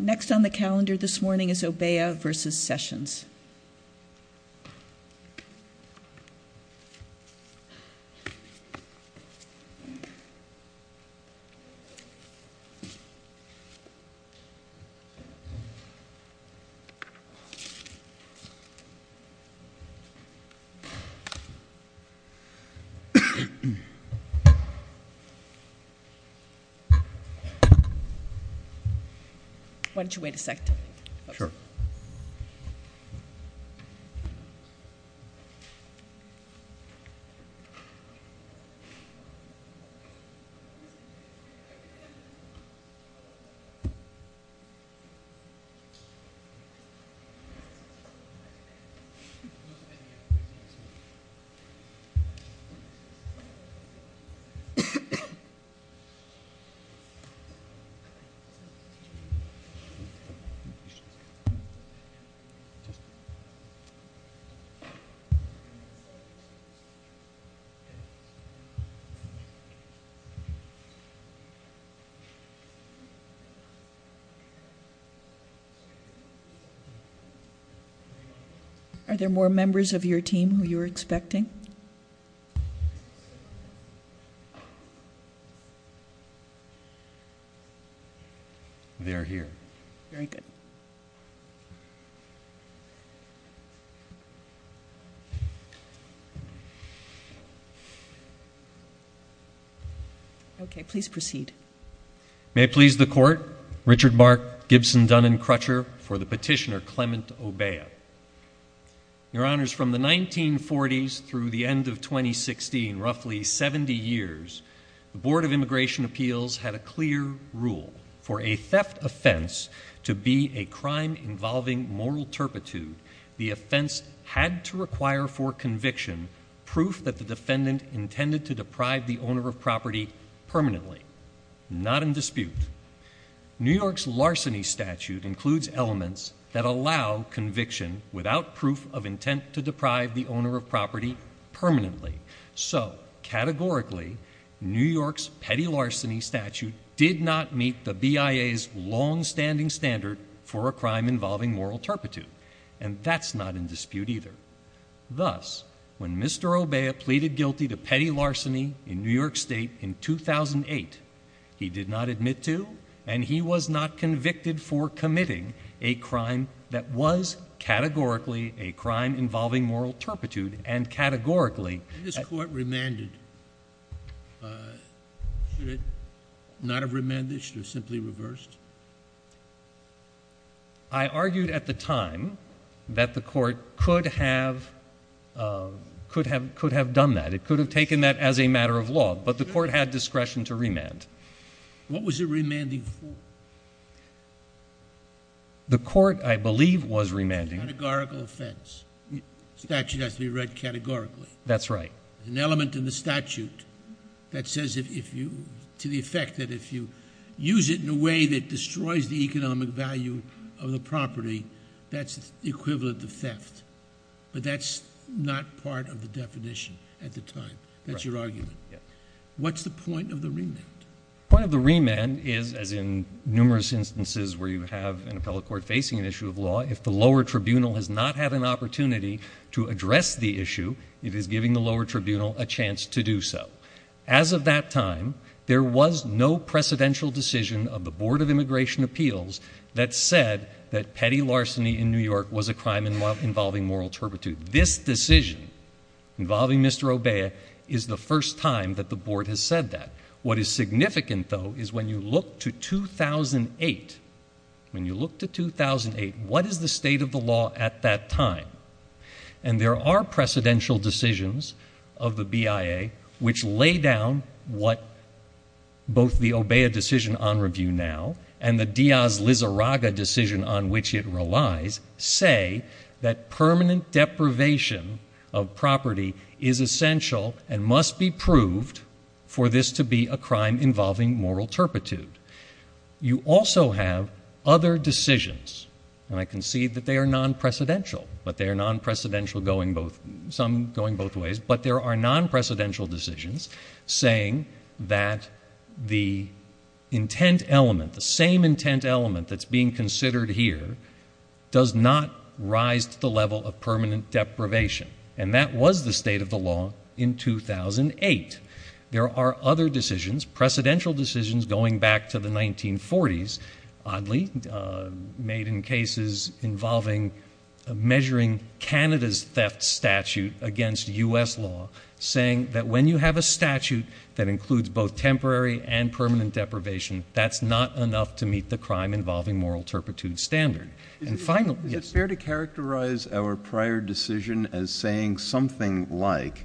Next on the calendar this morning is Obeya v. Sessions Why don't you wait a second? Sure. Are there more members of your team who you were expecting? Very good. Okay, please proceed. May it please the court, Richard Mark Gibson Dunn and Crutcher for the petitioner Clement Obeya. Your Honors, from the 1940s through the end of 2016, roughly 70 years, the Board of Immigration Appeals had a clear rule. For a theft offense to be a crime involving moral turpitude, the offense had to require for conviction proof that the defendant intended to deprive the owner of property permanently. Not in dispute. New York's larceny statute includes elements that allow conviction without proof of intent to deprive the owner of property permanently. So, categorically, New York's petty larceny statute did not meet the BIA's longstanding standard for a crime involving moral turpitude. And that's not in dispute either. Thus, when Mr. Obeya pleaded guilty to petty larceny in New York State in 2008, he did not admit to, and he was not convicted for committing a crime that was categorically a crime involving moral turpitude and categorically- This court remanded. Should it not have remanded? Should it have simply reversed? I argued at the time that the court could have done that. It could have taken that as a matter of law, but the court had discretion to remand. What was it remanding for? The court, I believe, was remanding- Categorical offense. Statute has to be read categorically. That's right. An element in the statute that says if you- to the effect that if you use it in a way that destroys the economic value of the property, that's the equivalent of theft. But that's not part of the definition at the time. That's your argument. What's the point of the remand? The point of the remand is, as in numerous instances where you have an appellate court facing an issue of law, if the lower tribunal has not had an opportunity to address the issue, it is giving the lower tribunal a chance to do so. As of that time, there was no precedential decision of the Board of Immigration Appeals that said that petty larceny in New York was a crime involving moral turpitude. This decision involving Mr. Obeya is the first time that the board has said that. What is significant, though, is when you look to 2008, when you look to 2008, what is the state of the law at that time? And there are precedential decisions of the BIA which lay down what both the Obeya decision on review now and the Diaz-Lizarraga decision on which it relies say that permanent deprivation of property is essential and must be proved for this to be a crime involving moral turpitude. You also have other decisions, and I concede that they are non-precedential, but they are non-precedential going both, some going both ways, but there are non-precedential decisions saying that the intent element, the same intent element that's being considered here does not rise to the level of permanent deprivation. And that was the state of the law in 2008. There are other decisions, precedential decisions going back to the 1940s, oddly, made in cases involving measuring Canada's theft statute against U.S. law, saying that when you have a statute that includes both temporary and permanent deprivation, that's not enough to meet the crime involving moral turpitude standard. Is it fair to characterize our prior decision as saying something like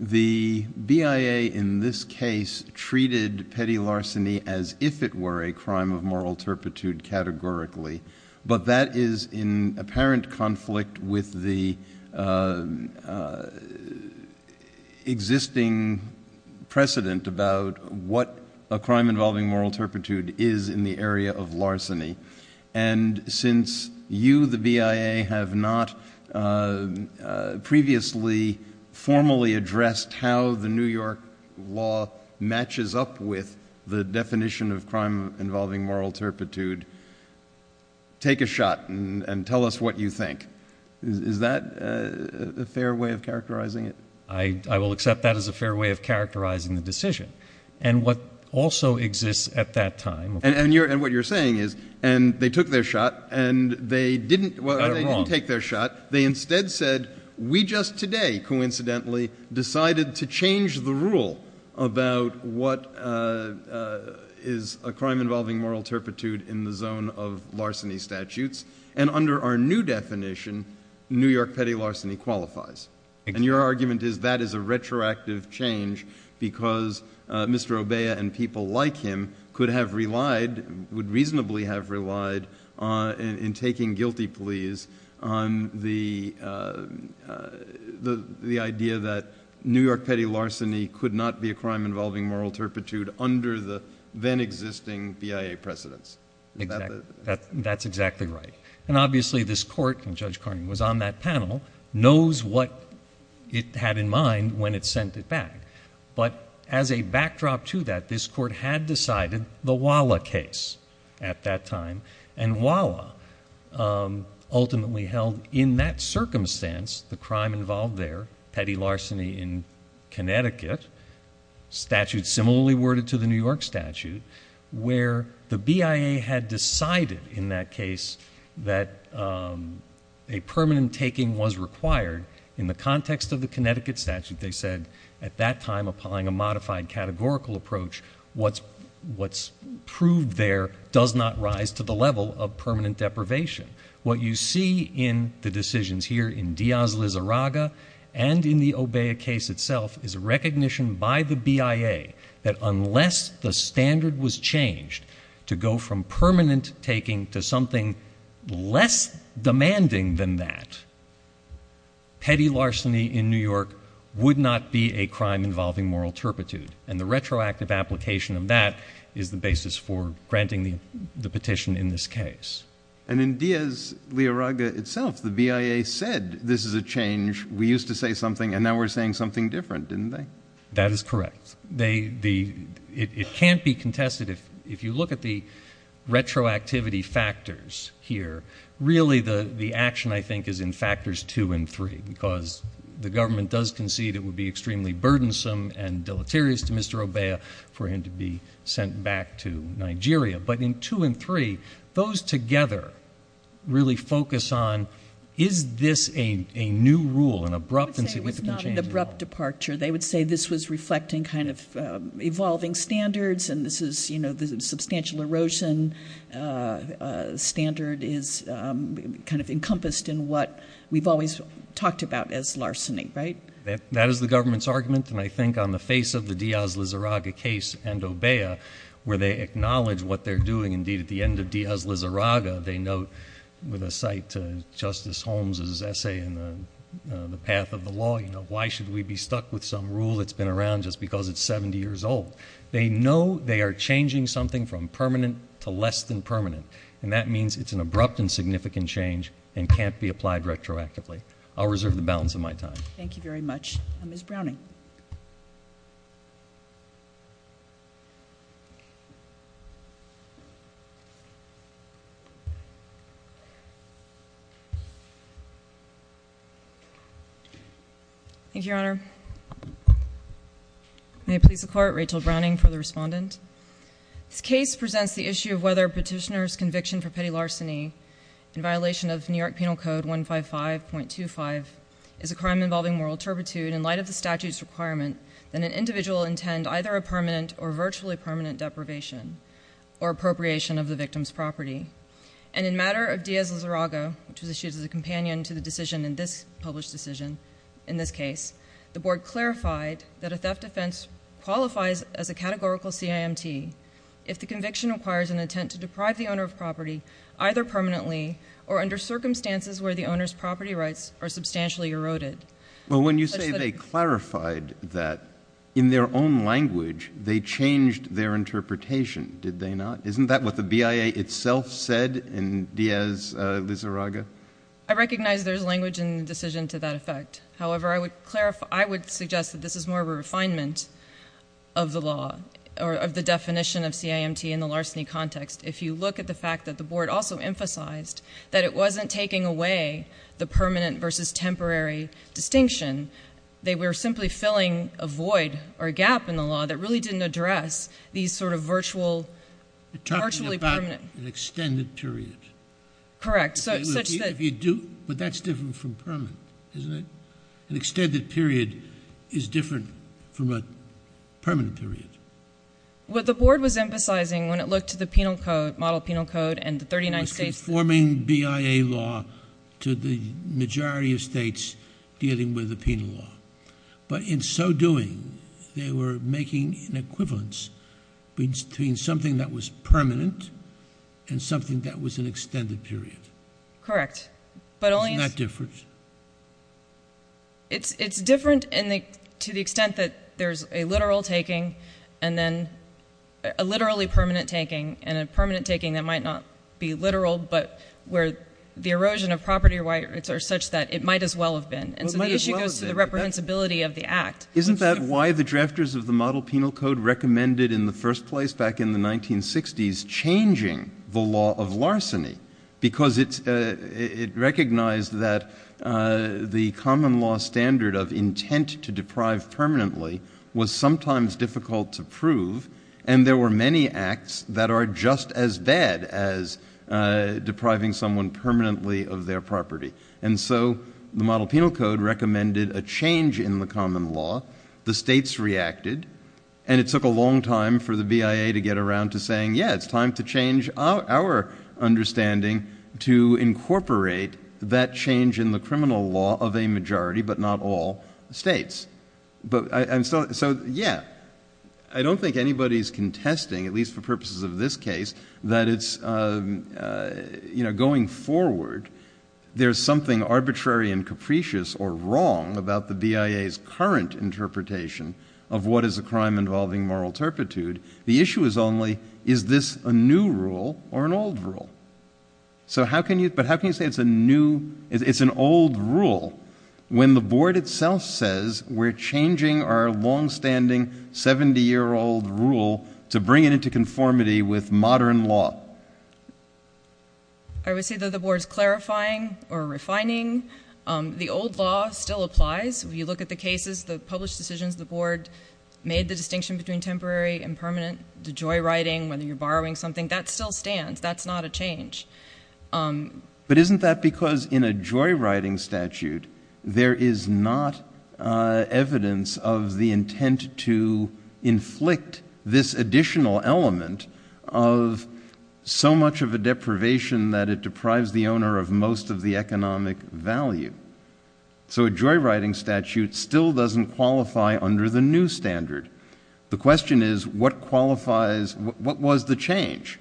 the BIA in this case treated petty larceny as if it were a crime of moral turpitude categorically, but that is in apparent conflict with the existing precedent about what a crime involving moral turpitude is in the area of larceny. And since you, the BIA, have not previously formally addressed how the New York law matches up with the definition of crime involving moral turpitude, take a shot and tell us what you think. Is that a fair way of characterizing it? I will accept that as a fair way of characterizing the decision. And what also exists at that time. And what you're saying is, and they took their shot and they didn't take their shot. They instead said, we just today, coincidentally, decided to change the rule about what is a crime involving moral turpitude in the zone of larceny statutes. And under our new definition, New York petty larceny qualifies. And your argument is that is a retroactive change because Mr. Obeah and people like him could have relied, would reasonably have relied, in taking guilty pleas on the idea that New York petty larceny could not be a crime involving moral turpitude under the then existing BIA precedents. That's exactly right. And obviously this court, and Judge Carney was on that panel, knows what it had in mind when it sent it back. But as a backdrop to that, this court had decided the Walla case at that time. And Walla ultimately held in that circumstance, the crime involved there, petty larceny in Connecticut, statute similarly worded to the New York statute, where the BIA had decided in that case that a permanent taking was required in the context of the Connecticut statute. They said at that time, applying a modified categorical approach, what's proved there does not rise to the level of permanent deprivation. What you see in the decisions here in Diaz-Lizarraga and in the Obeah case itself is recognition by the BIA that unless the standard was changed to go from permanent taking to something less demanding than that, petty larceny in New York would not be a crime involving moral turpitude. And the retroactive application of that is the basis for granting the petition in this case. And in Diaz-Lizarraga itself, the BIA said this is a change, we used to say something, and now we're saying something different, didn't they? That is correct. It can't be contested. If you look at the retroactivity factors here, really the action I think is in factors two and three, because the government does concede it would be extremely burdensome and deleterious to Mr. Obeah for him to be sent back to Nigeria. But in two and three, those together really focus on is this a new rule, an abrupt change? I would say it was not an abrupt departure. They would say this was reflecting kind of evolving standards and this is, you know, the substantial erosion standard is kind of encompassed in what we've always talked about as larceny, right? That is the government's argument, and I think on the face of the Diaz-Lizarraga case and Obeah, where they acknowledge what they're doing, indeed at the end of Diaz-Lizarraga, they note with a cite to Justice Holmes' essay in the path of the law, you know, why should we be stuck with some rule that's been around just because it's 70 years old? They know they are changing something from permanent to less than permanent, and that means it's an abrupt and significant change and can't be applied retroactively. I'll reserve the balance of my time. Thank you very much. Ms. Browning. Thank you, Your Honor. May it please the court, Rachel Browning for the respondent. This case presents the issue of whether petitioner's conviction for petty larceny in violation of New York Penal Code 155.25 is a crime involving moral turpitude in light of the statute's requirement that an individual intend either a permanent or virtually permanent deprivation or appropriation of the victim's property. And in matter of Diaz-Lizarraga, which was issued as a companion to the decision in this published decision, in this case, the board clarified that a theft offense qualifies as a categorical CIMT if the conviction requires an attempt to deprive the owner of property either permanently or under circumstances where the owner's property rights are substantially eroded. Well, when you say they clarified that, in their own language, they changed their interpretation, did they not? Isn't that what the BIA itself said in Diaz-Lizarraga? I recognize there's language in the decision to that effect. However, I would suggest that this is more of a refinement of the law or of the definition of CIMT in the larceny context. If you look at the fact that the board also emphasized that it wasn't taking away the permanent versus temporary distinction. They were simply filling a void or a gap in the law that really didn't address these sort of virtually permanent. Talking about an extended period. Correct. But that's different from permanent, isn't it? An extended period is different from a permanent period. What the board was emphasizing when it looked to the penal code, model penal code, and the 39 states- Between something that was permanent and something that was an extended period. Correct. Isn't that different? It's different to the extent that there's a literal taking and then a literally permanent taking and a permanent taking that might not be literal, but where the erosion of property rights are such that it might as well have been. And so the issue goes to the reprehensibility of the act. Isn't that why the drafters of the model penal code recommended in the first place back in the 1960s changing the law of larceny? Because it recognized that the common law standard of intent to deprive permanently was sometimes difficult to prove, and there were many acts that are just as bad as depriving someone permanently of their property. And so the model penal code recommended a change in the common law. The states reacted, and it took a long time for the BIA to get around to saying, yeah, it's time to change our understanding to incorporate that change in the criminal law of a majority, but not all, states. So, yeah, I don't think anybody's contesting, at least for purposes of this case, that it's going forward. There's something arbitrary and capricious or wrong about the BIA's current interpretation of what is a crime involving moral turpitude. The issue is only, is this a new rule or an old rule? But how can you say it's an old rule when the board itself says we're changing our longstanding 70-year-old rule to bring it into conformity with modern law? I would say that the board is clarifying or refining. The old law still applies. If you look at the cases, the published decisions, the board made the distinction between temporary and permanent. The joyriding, whether you're borrowing something, that still stands. That's not a change. But isn't that because in a joyriding statute, there is not evidence of the intent to inflict this additional element of so much of a deprivation that it deprives the owner of most of the economic value? So a joyriding statute still doesn't qualify under the new standard. The question is, what qualifies, what was the change?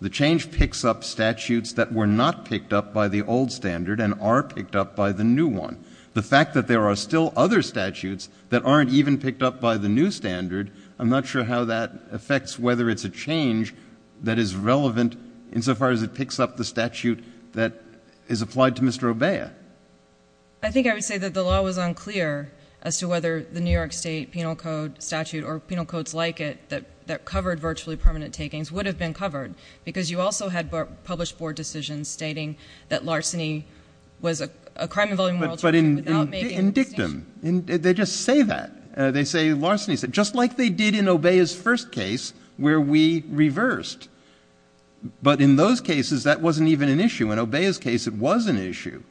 The change picks up statutes that were not picked up by the old standard and are picked up by the new one. The fact that there are still other statutes that aren't even picked up by the new standard, I'm not sure how that affects whether it's a change that is relevant insofar as it picks up the statute that is applied to Mr. Obeya. I think I would say that the law was unclear as to whether the New York State Penal Code statute or penal codes like it that covered virtually permanent takings would have been covered because you also had published board decisions stating that larceny was a crime involving moral... But in dictum, they just say that. They say larceny, just like they did in Obeya's first case where we reversed. But in those cases, that wasn't even an issue. In Obeya's case, it was an issue.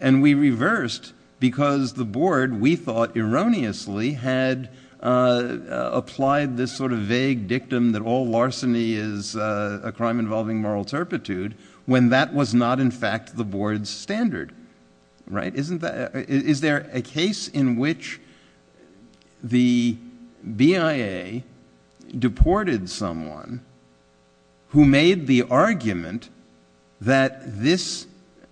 And we reversed because the board, we thought erroneously, had applied this sort of vague dictum that all larceny is a crime involving moral turpitude when that was not in fact the board's standard, right? Is there a case in which the BIA deported someone who made the argument that this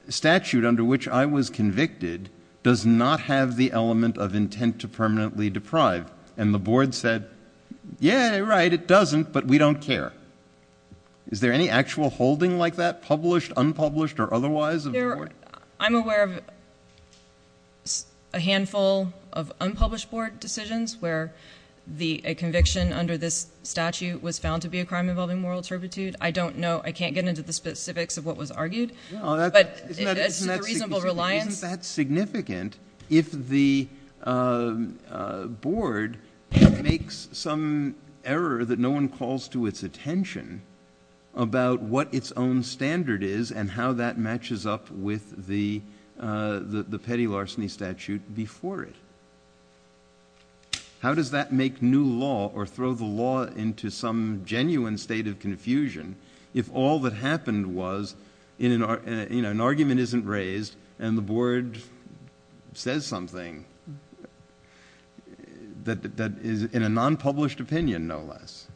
statute under which I was convicted does not have the element of intent to permanently deprive and the board said, yeah, right, it doesn't, but we don't care. Is there any actual holding like that, published, unpublished, or otherwise? I'm aware of a handful of unpublished board decisions where a conviction under this statute was found to be a crime involving moral turpitude. I don't know, I can't get into the specifics of what was argued, but it's a reasonable reliance. But isn't that significant if the board makes some error that no one calls to its attention about what its own standard is and how that matches up with the petty larceny statute before it? How does that make new law or throw the law into some genuine state of confusion if all that happened was an argument isn't raised and the board says something that is in a non-published opinion, no less?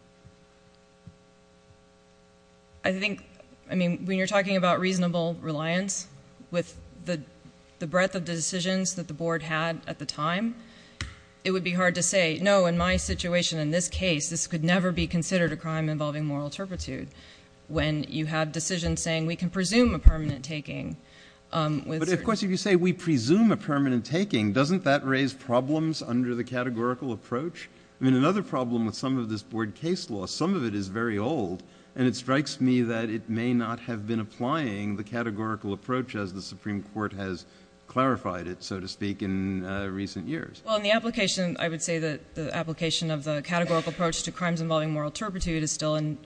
I think, I mean, when you're talking about reasonable reliance with the breadth of the decisions that the board had at the time, it would be hard to say, no, in my situation, in this case, this could never be considered a crime involving moral turpitude when you have decisions saying we can presume a permanent taking. But of course, if you say we presume a permanent taking, doesn't that raise problems under the categorical approach? I mean, another problem with some of this board case law, some of it is very old, and it strikes me that it may not have been applying the categorical approach as the Supreme Court has clarified it, so to speak, in recent years. Well, in the application, I would say that the application of the categorical approach to crimes involving moral turpitude is still in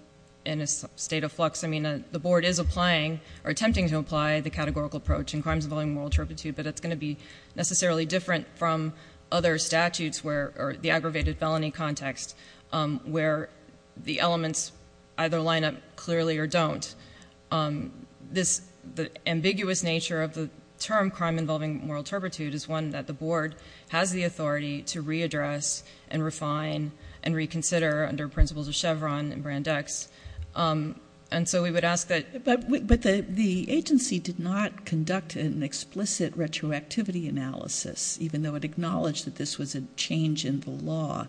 a state of flux. I mean, the board is applying or attempting to apply the categorical approach in crimes involving moral turpitude, but it's going to be necessarily different from other statutes or the aggravated felony context where the elements either line up clearly or don't. This ambiguous nature of the term crime involving moral turpitude is one that the board has the authority to readdress and refine and reconsider under principles of Chevron and Brandeis, and so we would ask that. But the agency did not conduct an explicit retroactivity analysis, even though it acknowledged that this was a change in the law.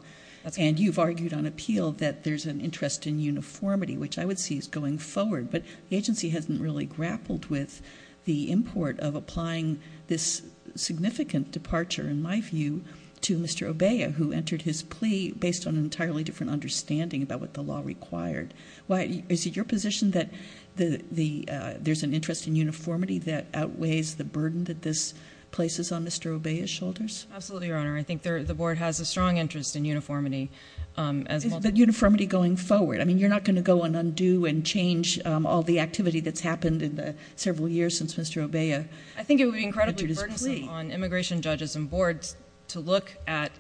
And you've argued on appeal that there's an interest in uniformity, which I would see as going forward, but the agency hasn't really grappled with the import of applying this significant departure, in my view, to Mr. Obeya, who entered his plea based on an entirely different understanding about what the law required. Is it your position that there's an interest in uniformity that outweighs the burden that this places on Mr. Obeya's shoulders? Absolutely, Your Honor. I think the board has a strong interest in uniformity as well. But uniformity going forward? I mean, you're not going to go and undo and change all the activity that's happened in the several years since Mr. Obeya entered his plea. I think it would be incredibly burdensome on immigration judges and boards to look at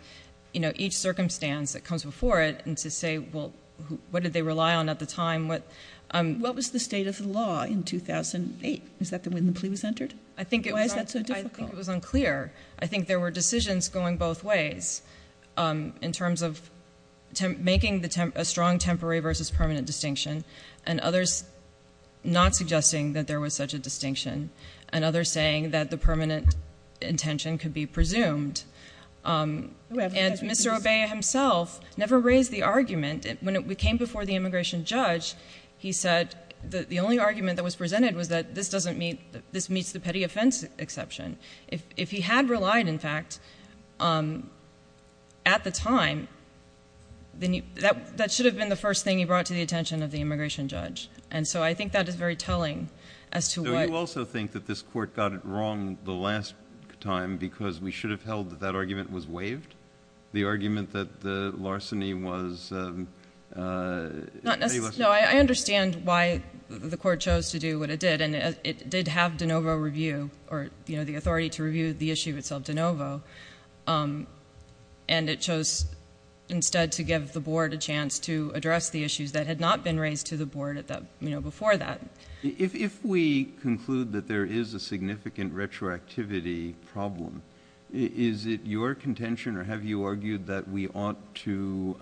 each circumstance that comes before it and to say, well, what did they rely on at the time? What was the state of the law in 2008? Is that when the plea was entered? Why is that so difficult? I think it was unclear. I think there were decisions going both ways in terms of making a strong temporary versus permanent distinction and others not suggesting that there was such a distinction and others saying that the permanent intention could be presumed. And Mr. Obeya himself never raised the argument. When it came before the immigration judge, he said the only argument that was presented was that this meets the petty offense exception. If he had relied, in fact, at the time, then that should have been the first thing he brought to the attention of the immigration judge. And so I think that is very telling as to what— So you also think that this court got it wrong the last time because we should have held that that argument was waived, the argument that the larceny was— No, I understand why the court chose to do what it did. It did have de novo review or the authority to review the issue itself de novo, and it chose instead to give the board a chance to address the issues that had not been raised to the board before that. If we conclude that there is a significant retroactivity problem, is it your contention or have you argued that we ought to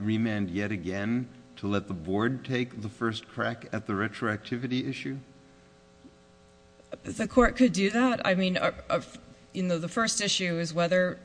remand yet again to let the board take the first crack at the retroactivity issue? The court could do that. I mean, the first issue is whether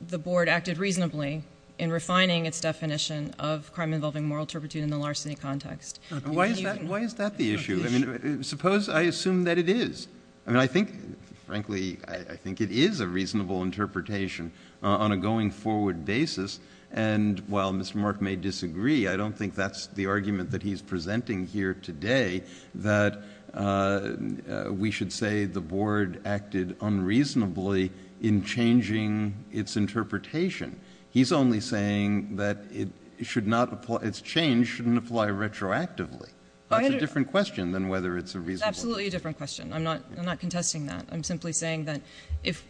the board acted reasonably in refining its definition of crime involving moral turpitude in the larceny context. Why is that the issue? I mean, suppose—I assume that it is. I mean, I think—frankly, I think it is a reasonable interpretation on a going-forward basis, and while Mr. Mark may disagree, I don't think that's the argument that he's presenting here today, that we should say the board acted unreasonably in changing its interpretation. He's only saying that it should not—its change shouldn't apply retroactively. That's a different question than whether it's a reasonable— It's absolutely a different question. I'm not contesting that. I'm simply saying that if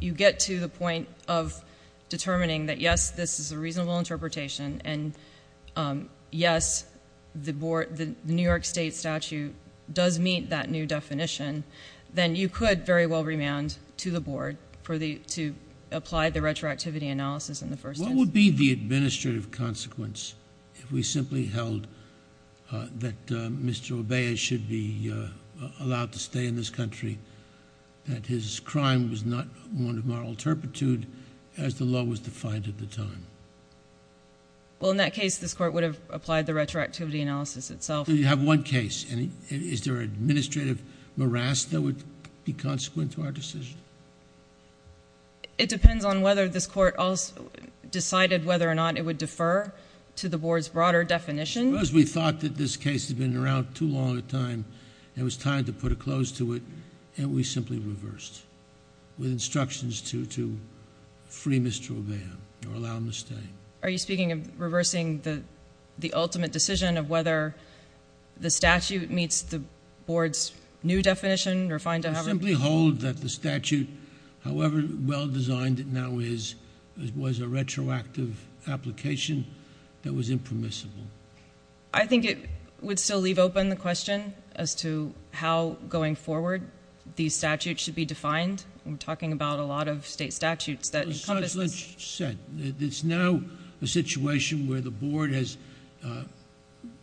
you get to the point of determining that, yes, this is a reasonable interpretation, and, yes, the New York State statute does meet that new definition, then you could very well remand to the board to apply the retroactivity analysis in the first instance. What would be the administrative consequence if we simply held that Mr. Obeye should be allowed to stay in this country, that his crime was not one of moral turpitude as the law was defined at the time? Well, in that case, this Court would have applied the retroactivity analysis itself. You have one case. Is there an administrative morass that would be consequent to our decision? It depends on whether this Court decided whether or not it would defer to the board's broader definition. Suppose we thought that this case had been around too long a time and it was time to put a close to it, and we simply reversed with instructions to free Mr. Obeye or allow him to stay. Are you speaking of reversing the ultimate decision of whether the statute meets the board's new definition or find out— Or simply hold that the statute, however well designed it now is, was a retroactive application that was impermissible? I think it would still leave open the question as to how, going forward, these statutes should be defined. We're talking about a lot of state statutes that encompass— It's now a situation where the board has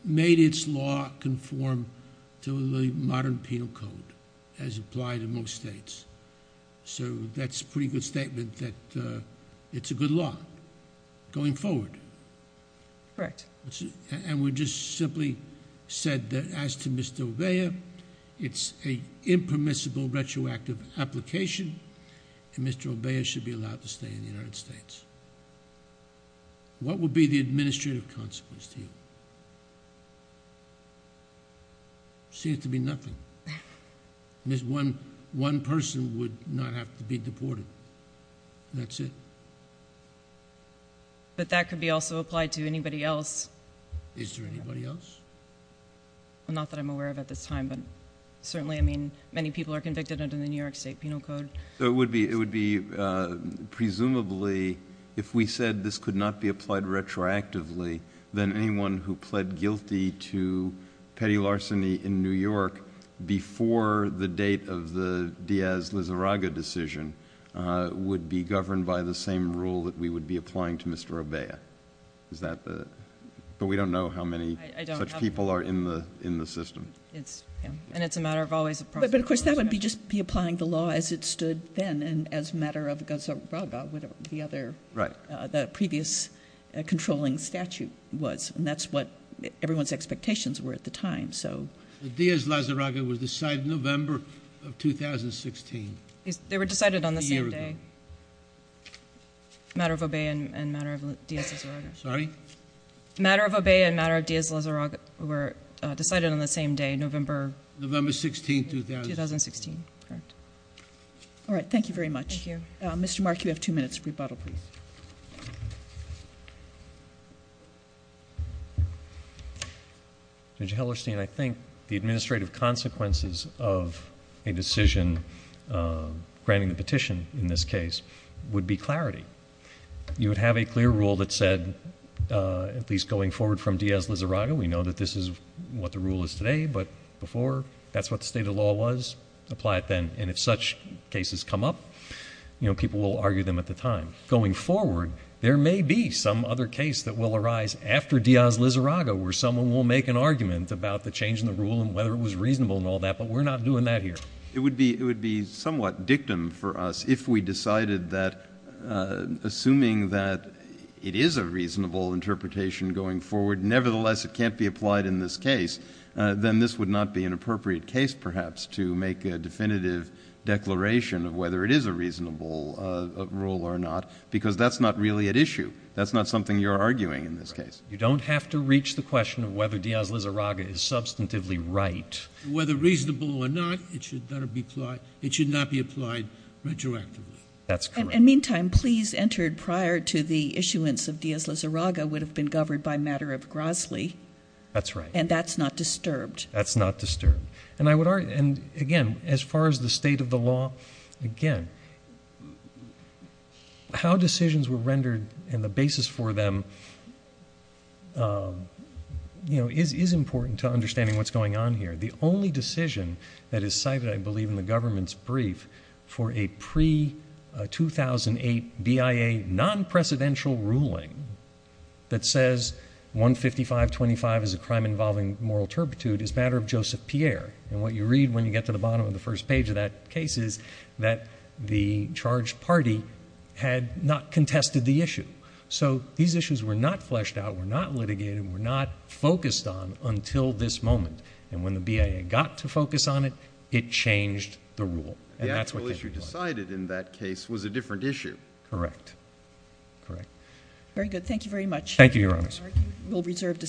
made its law conform to the modern penal code as applied in most states. So that's a pretty good statement that it's a good law going forward. Correct. And we just simply said that as to Mr. Obeye, it's a impermissible retroactive application, and Mr. Obeye should be allowed to stay in the United States. What would be the administrative consequence to you? Seems to be nothing. One person would not have to be deported. That's it. But that could be also applied to anybody else. Is there anybody else? Not that I'm aware of at this time, but certainly, I mean, many people are convicted under the New York State Penal Code. So it would be—presumably, if we said this could not be applied retroactively, then anyone who pled guilty to petty larceny in New York before the date of the Diaz-Lizarraga decision would be governed by the same rule that we would be applying to Mr. Obeye. Is that the—but we don't know how many such people are in the system. And it's a matter of always— But, of course, that would just be applying the law as it stood then and as matter of Lizarraga, the other—the previous controlling statute was, and that's what everyone's expectations were at the time. The Diaz-Lizarraga was decided November of 2016. They were decided on the same day. A year ago. Matter of Obeye and matter of Diaz-Lizarraga. Sorry? Matter of Obeye and matter of Diaz-Lizarraga were decided on the same day, November— 2016. Correct. All right. Thank you very much. Thank you. Mr. Mark, you have two minutes for rebuttal, please. Judge Hellerstein, I think the administrative consequences of a decision granting the petition in this case would be clarity. You would have a clear rule that said, at least going forward from Diaz-Lizarraga, we know that this is what the rule is today, but before, that's what the state of law was. Apply it then. And if such cases come up, you know, people will argue them at the time. Going forward, there may be some other case that will arise after Diaz-Lizarraga where someone will make an argument about the change in the rule and whether it was reasonable and all that, but we're not doing that here. It would be somewhat dictum for us if we decided that, assuming that it is a reasonable interpretation going forward, nevertheless it can't be applied in this case, then this would not be an appropriate case, perhaps, to make a definitive declaration of whether it is a reasonable rule or not because that's not really at issue. That's not something you're arguing in this case. You don't have to reach the question of whether Diaz-Lizarraga is substantively right. Whether reasonable or not, it should not be applied retroactively. That's correct. In the meantime, pleas entered prior to the issuance of Diaz-Lizarraga would have been governed by matter of grossly. That's right. And that's not disturbed. That's not disturbed. And, again, as far as the state of the law, again, how decisions were rendered and the basis for them, you know, is important to understanding what's going on here. The only decision that is cited, I believe, in the government's brief for a pre-2008 BIA non-presidential ruling that says 155.25 is a crime involving moral turpitude is a matter of Joseph Pierre. And what you read when you get to the bottom of the first page of that case is that the charged party had not contested the issue. So these issues were not fleshed out, were not litigated, were not focused on until this moment. And when the BIA got to focus on it, it changed the rule. The actual issue decided in that case was a different issue. Correct. Correct. Very good. Thank you very much. Thank you, Your Honors. We'll reserve decision.